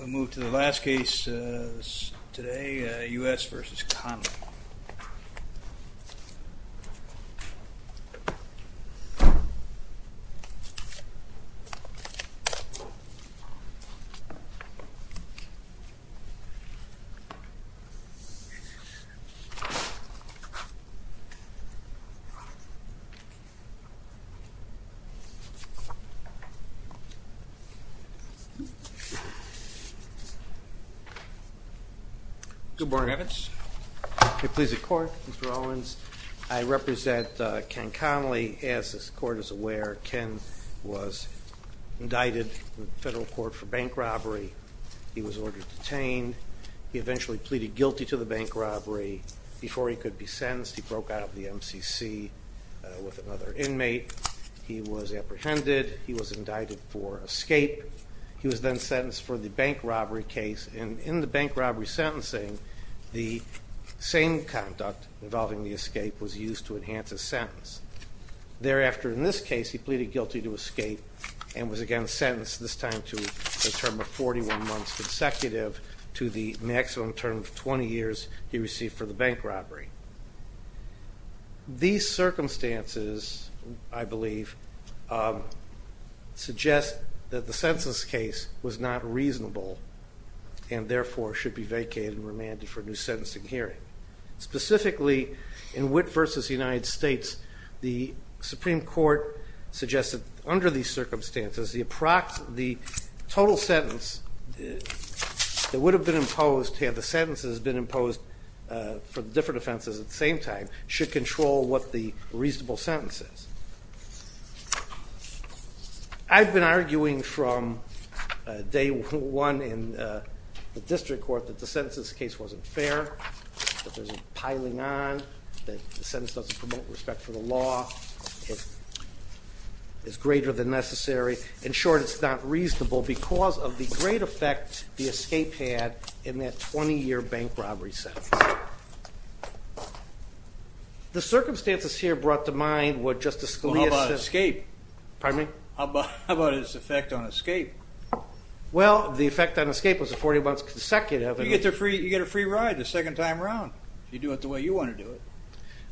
We move to the last case today, U.S. v. Conley. Mr. Owens, I represent Ken Conley. As this Court is aware, Ken was indicted in federal court for bank robbery. He was ordered detained. He eventually pleaded guilty to the bank robbery. Before he could be sentenced, he broke out of the MCC with another inmate. He was apprehended. He was indicted for escape. He was then sentenced for the bank robbery case. In the bank robbery sentencing, the same conduct involving the escape was used to enhance his sentence. Thereafter, in this case, he pleaded guilty to escape and was again sentenced, this time to a term of 41 months consecutive to the maximum term of 20 years he received for the bank robbery. These circumstances, I believe, suggest that the sentence case was not reasonable and therefore should be vacated and remanded for a new sentencing hearing. Specifically, in Witt v. United States, the Supreme Court suggested under these circumstances, the total sentence that would should control what the reasonable sentence is. I've been arguing from day one in the district court that the sentence case wasn't fair, that there's a piling on, that the sentence doesn't promote respect for the law. It's greater than necessary. In short, it's not fair. The circumstances here brought to mind what Justice Scalia said. Well, how about escape? Pardon me? How about its effect on escape? Well, the effect on escape was the 41 months consecutive. You get a free ride the second time around if you do it the way you want to do it.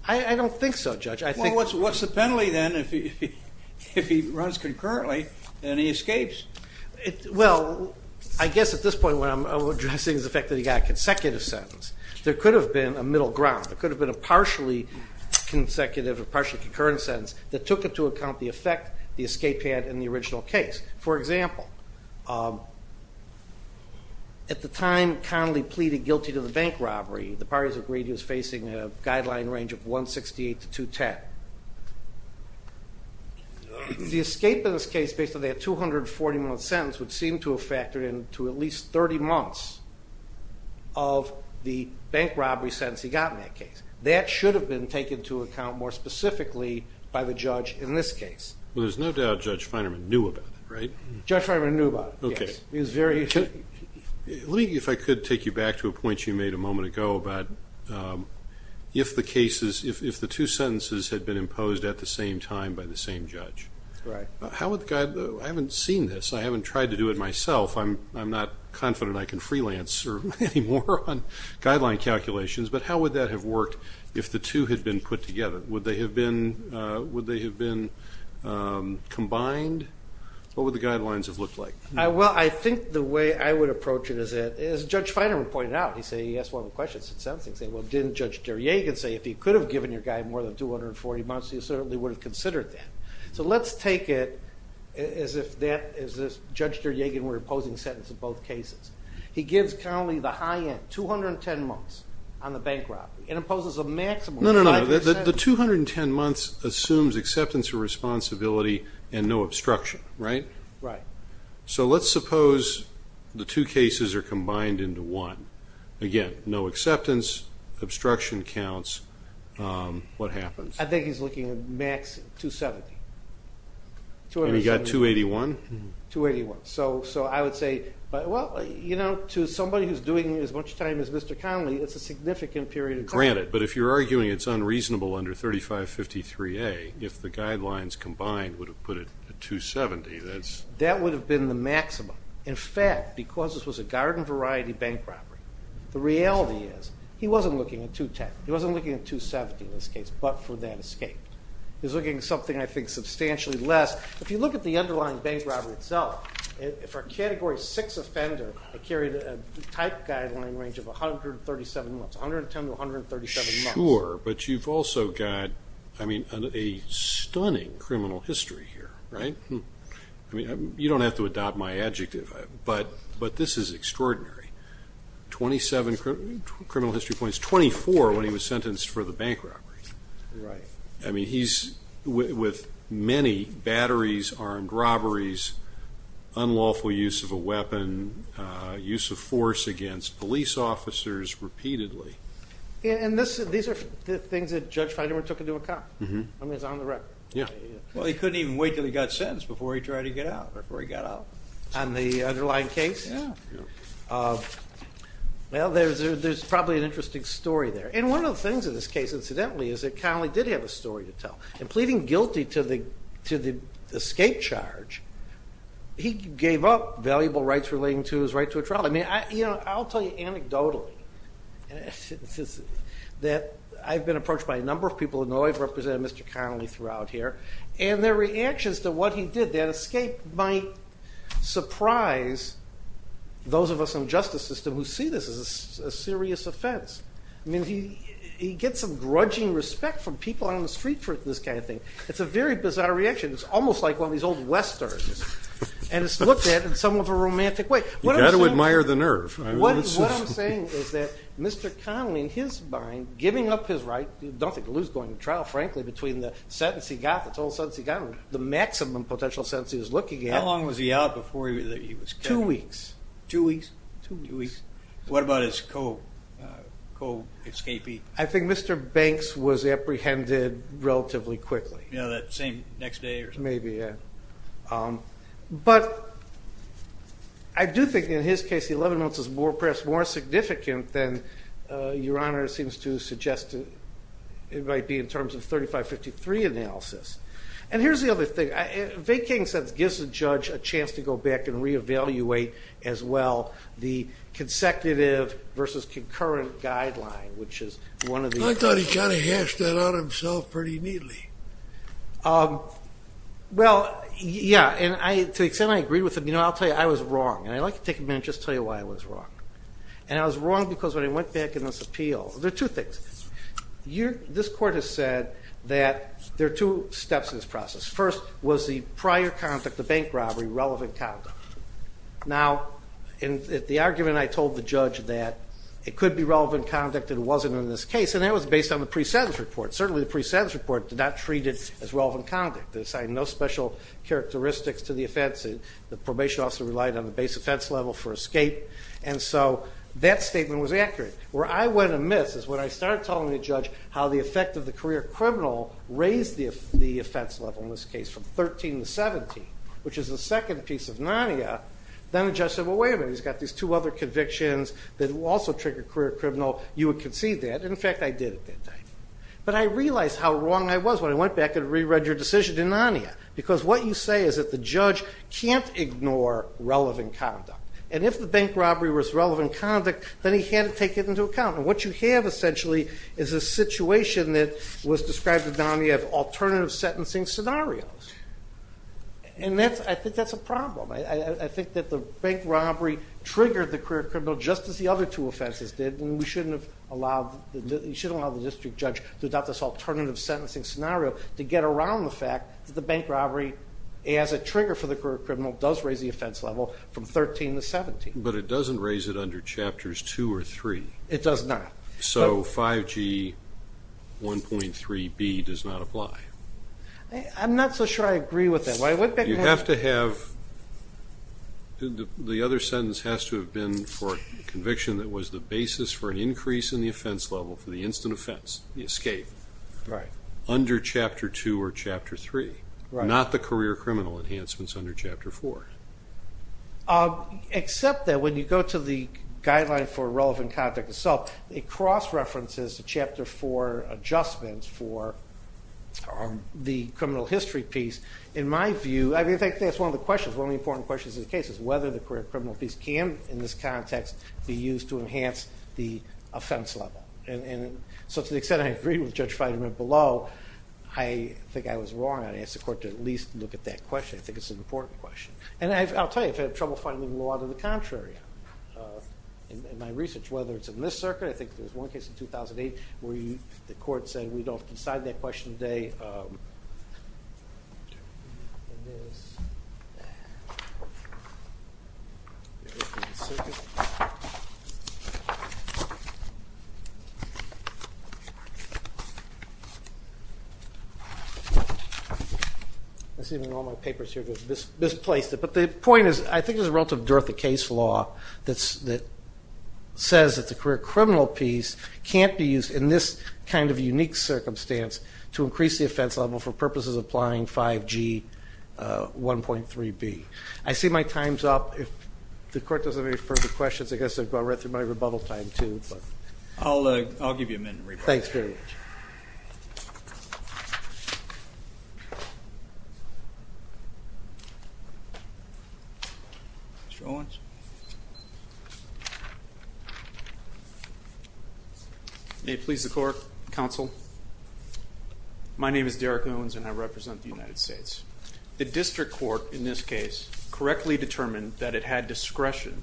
I don't think so, Judge. Well, what's the penalty then if he runs concurrently and he escapes? Well, I guess at this point when I'm addressing the fact that he got a consecutive sentence, there could have been a middle ground. There could have been a partially consecutive or partially concurrent sentence that took into account the effect the escape had in the original case. For example, at the time Connolly pleaded guilty to the bank robbery, the parties agreed he was facing a guideline range of 168 to 210. The escape in this case, based on that 240-month sentence, would seem to have factored in to at least 30 months of the bank robbery sentence he got in that case. That should have been taken into account more specifically by the judge in this case. Well, there's no doubt Judge Feinerman knew about it, right? Judge Feinerman knew about it, yes. Okay. He was very... Let me, if I could, take you back to a point you made a moment ago about if the cases, if the two sentences had been imposed at the same time by the same judge. Right. How would the... I haven't seen this. I haven't tried to do it myself. I'm not confident I can freelance or any more on guideline calculations, but how would that have worked if the two had been put together? Would they have been combined? What would the guidelines have looked like? Well, I think the way I would approach it is that, as Judge Feinerman pointed out, he said, he asked one of the questions, he said, well, didn't Judge Deryagin say, if he could have given your guy more than 240 months, he certainly would have considered that. So, let's take it as if that, as if Judge Deryagin were imposing sentence in both cases. He gives currently the high end, 210 months on the bank robbery and imposes a maximum of 5%... No, no, no. The 210 months assumes acceptance or responsibility and no obstruction, right? Right. So, let's suppose the two cases are combined into one. Again, no acceptance, obstruction counts. What happens? I think he's looking at max 270. And he got 281? 281. So, I would say, well, you know, to somebody who's doing as much time as Mr. Connolly, it's a significant period of time. Granted, but if you're arguing it's unreasonable under 3553A, if the guidelines combined would have put it at 270, that's... That would have been the maximum. In fact, because this was a garden variety bank robbery, the reality is he wasn't looking at 210. He wasn't looking at 270 in this case, but for that escape. He was looking at something, I think, substantially less. If you look at the underlying bank robbery itself, for a Category 6 offender, it carried a type guideline range of 137 months. 110 to 137 months. Sure, but you've also got, I mean, a stunning criminal history here, right? I mean, you don't have to adopt my adjective, but this is extraordinary. 27 criminal history points. 24 when he was sentenced for the bank robbery. Right. I mean, he's, with many batteries armed robberies, unlawful use of a weapon, use of force against police officers repeatedly. And these are things that Judge Feiderman took into account. I mean, it's on the record. Well, he couldn't even wait until he got sentenced before he tried to get out, before he got out. On the underlying case? Yeah. Well, there's probably an interesting story there. And one of the things in this case, incidentally, is that Connolly did have a story to tell. In pleading guilty to the escape charge, he gave up valuable rights relating to his right to a trial. I mean, I'll tell you anecdotally that I've been approached by a number of people who know I've represented Mr. Connolly throughout here, and their reactions to what he did, that escape, might surprise those of us in the justice system who see this as a serious offense. I mean, he gets some grudging respect from people on the street for this kind of thing. It's a very bizarre reaction. It's almost like one of these old westerns. And it's looked at in somewhat of a romantic way. You've got to admire the nerve. What I'm saying is that Mr. Connolly, in his mind, giving up his right, I don't think he'll lose going to trial, frankly, between the sentence he got, the total sentence he got, and the maximum potential sentence he was looking at. How long was he out before he was killed? Two weeks. Two weeks? Two weeks. What about his co-escapee? I think Mr. Banks was apprehended relatively quickly. You know, that same next day or something? Maybe, yeah. But I do think, in his case, the 11 months is perhaps more significant than Your Honor seems to suggest it might be in terms of the 3553 analysis. And here's the other thing. Vacating sentence gives the judge a chance to go back and re-evaluate, as well, the consecutive versus concurrent guideline, which is one of the other things. I thought he kind of hashed that out himself pretty neatly. Well, yeah. And to the extent I agree with him, you know, I'll tell you, I was wrong. And I'd like to take a minute and just tell you why I was wrong. And I was wrong because when I went back in this appeal, there are two things. This Court has said that there are two steps in this process. First was the prior conduct, the bank robbery, relevant conduct. Now, the argument I told the judge that it could be relevant conduct and it wasn't in this case, and that was based on the pre-sentence report. But certainly the pre-sentence report did not treat it as relevant conduct. It assigned no special characteristics to the offense. The probation officer relied on the base offense level for escape. And so that statement was accurate. Where I went amiss is when I started telling the judge how the effect of the career criminal raised the offense level in this case from 13 to 17, which is the second piece of nonia, then the judge said, well, wait a minute, he's got these two other convictions that also trigger career criminal. You would concede that. And, in fact, I did at that time. But I realized how wrong I was when I went back and re-read your decision in nonia because what you say is that the judge can't ignore relevant conduct. And if the bank robbery was relevant conduct, then he had to take it into account. And what you have, essentially, is a situation that was described in nonia of alternative sentencing scenarios. And I think that's a problem. I think that the bank robbery triggered the career criminal just as the other two offenses did, and we shouldn't have allowed the district judge to adopt this alternative sentencing scenario to get around the fact that the bank robbery, as a trigger for the career criminal, does raise the offense level from 13 to 17. But it doesn't raise it under Chapters 2 or 3. It does not. So 5G 1.3b does not apply. I'm not so sure I agree with that. You have to have the other sentence has to have been for a conviction that was the basis for an increase in the offense level for the instant offense, the escape, under Chapter 2 or Chapter 3, not the career criminal enhancements under Chapter 4. Except that when you go to the guideline for relevant conduct of assault, it cross-references the Chapter 4 adjustments for the criminal history piece. In my view, I think that's one of the questions, one of the important questions in the case, is whether the career criminal piece can, in this context, be used to enhance the offense level. And so to the extent I agree with Judge Feynman below, I think I was wrong. I asked the court to at least look at that question. I think it's an important question. And I'll tell you, I've had trouble finding the law to the contrary in my research, whether it's in this circuit. I think there's one case in 2008 where the court said, we don't decide that question today in this circuit. I'm assuming all my papers here have been misplaced. But the point is, I think there's a relative dearth of case law that says that the career criminal piece can't be used in this kind of unique circumstance to increase the offense level for purposes of applying 5G 1.3b. I see my time's up. If the court doesn't have any further questions, I guess I've gone right through my rebuttal time, too. I'll give you a minute to reply. Thanks very much. Mr. Owens? May it please the court, counsel. My name is Derek Owens, and I represent the United States. The district court in this case correctly determined that it had discretion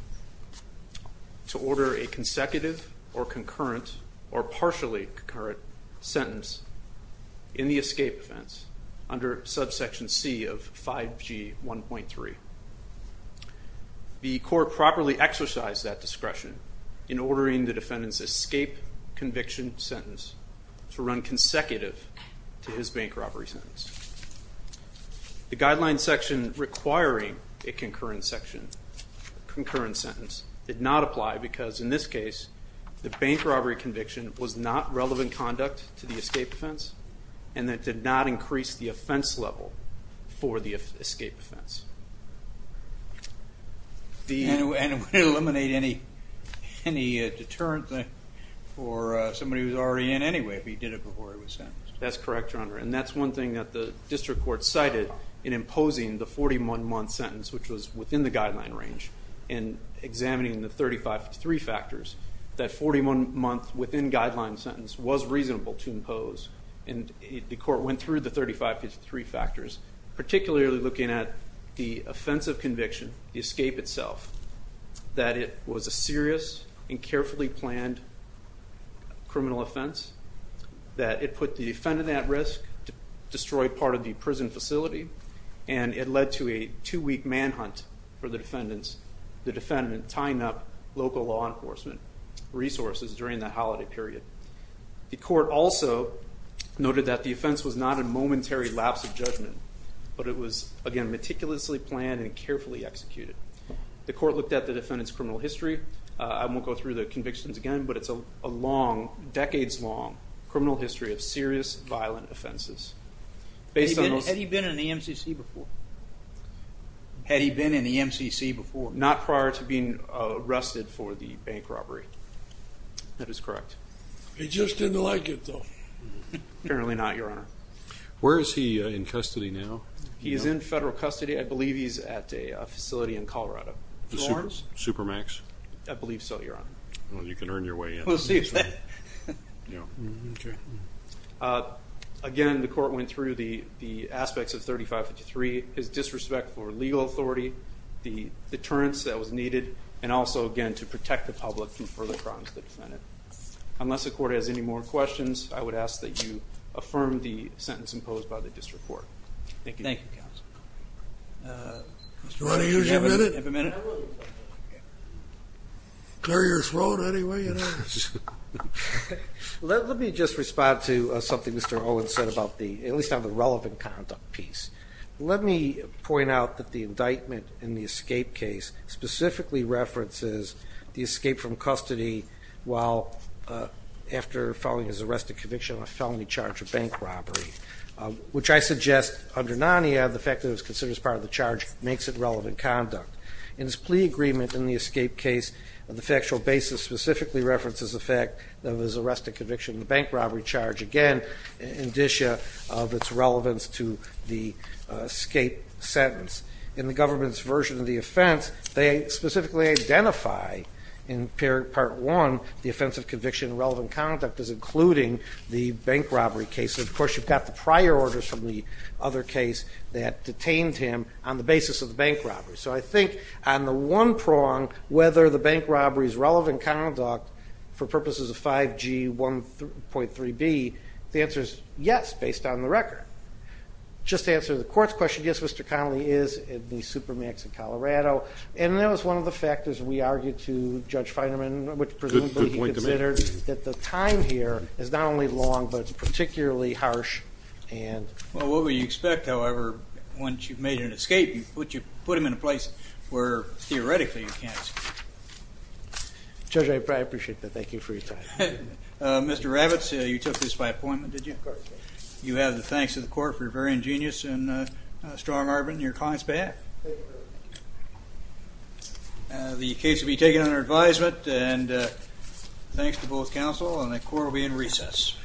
to order a consecutive or concurrent or partially concurrent sentence in the escape offense under subsection C of 5G 1.3. The court properly exercised that discretion in ordering the defendant's escape conviction sentence to run consecutive to his bank robbery sentence. The guideline section requiring a concurrent sentence did not apply because, in this case, the bank robbery conviction was not relevant conduct to the escape offense, and that did not increase the offense level for the escape offense. And would it eliminate any deterrent for somebody who's already in anyway if he did it before he was sentenced? That's correct, Your Honor, and that's one thing that the district court cited in imposing the 41-month sentence, which was within the guideline range, and examining the 3553 factors, that 41 months within guideline sentence was reasonable to impose, and the court went through the 3553 factors, particularly looking at the offensive conviction, the escape itself, that it was a serious and carefully planned criminal offense, that it put the defendant at risk to destroy part of the prison facility, and it led to a two-week manhunt for the defendant, tying up local law enforcement resources during that holiday period. The court also noted that the offense was not a momentary lapse of judgment, but it was, again, meticulously planned and carefully executed. The court looked at the defendant's criminal history. I won't go through the convictions again, but it's a long, decades-long criminal history of serious, violent offenses. Had he been in the MCC before? Had he been in the MCC before? Not prior to being arrested for the bank robbery. That is correct. He just didn't like it, though. Apparently not, Your Honor. Where is he in custody now? He is in federal custody. I believe he's at a facility in Colorado. Supermax? I believe so, Your Honor. Well, you can earn your way in. We'll see. Again, the court went through the aspects of 3553, his disrespect for legal authority, the deterrence that was needed, and also, again, to protect the public from further crimes of the defendant. Unless the court has any more questions, I would ask that you affirm the sentence imposed by the district court. Thank you. Thank you, counsel. Do you want to use your minute? Do you have a minute? Clear your throat anyway, you know. Let me just respond to something Mr. Owens said about the, at least on the relevant conduct piece. Let me point out that the indictment in the escape case specifically references the escape from custody while after filing his arresting conviction on a felony charge of bank robbery, which I suggest under NANIA the fact that it was considered as part of the charge makes it relevant conduct. In his plea agreement in the escape case, the factual basis specifically references the fact that it was an arresting conviction on a bank robbery charge, again, indicia of its relevance to the escape sentence. In the government's version of the offense, they specifically identify in part one the offense of conviction and relevant conduct as including the bank robbery case. And, of course, you've got the prior orders from the other case that detained him on the basis of the bank robbery. So I think on the one prong, whether the bank robbery's relevant conduct for purposes of 5G.1.3b the answer is yes, based on the record. Just to answer the court's question, yes, Mr. Connolly is at the Supermax in Colorado. And that was one of the factors we argued to Judge Finerman, which presumably he considered that the time here is not only long, but it's particularly harsh. Well, what would you expect, however, once you've made an escape? You put him in a place where theoretically you can't escape. Judge, I appreciate that. Thank you for your time. Mr. Ravitz, you took this by appointment, did you? Of course. You have the thanks of the court for your very ingenious and strong argument in your client's behalf. Thank you very much. The case will be taken under advisement, and thanks to both counsel. And the court will be in recess.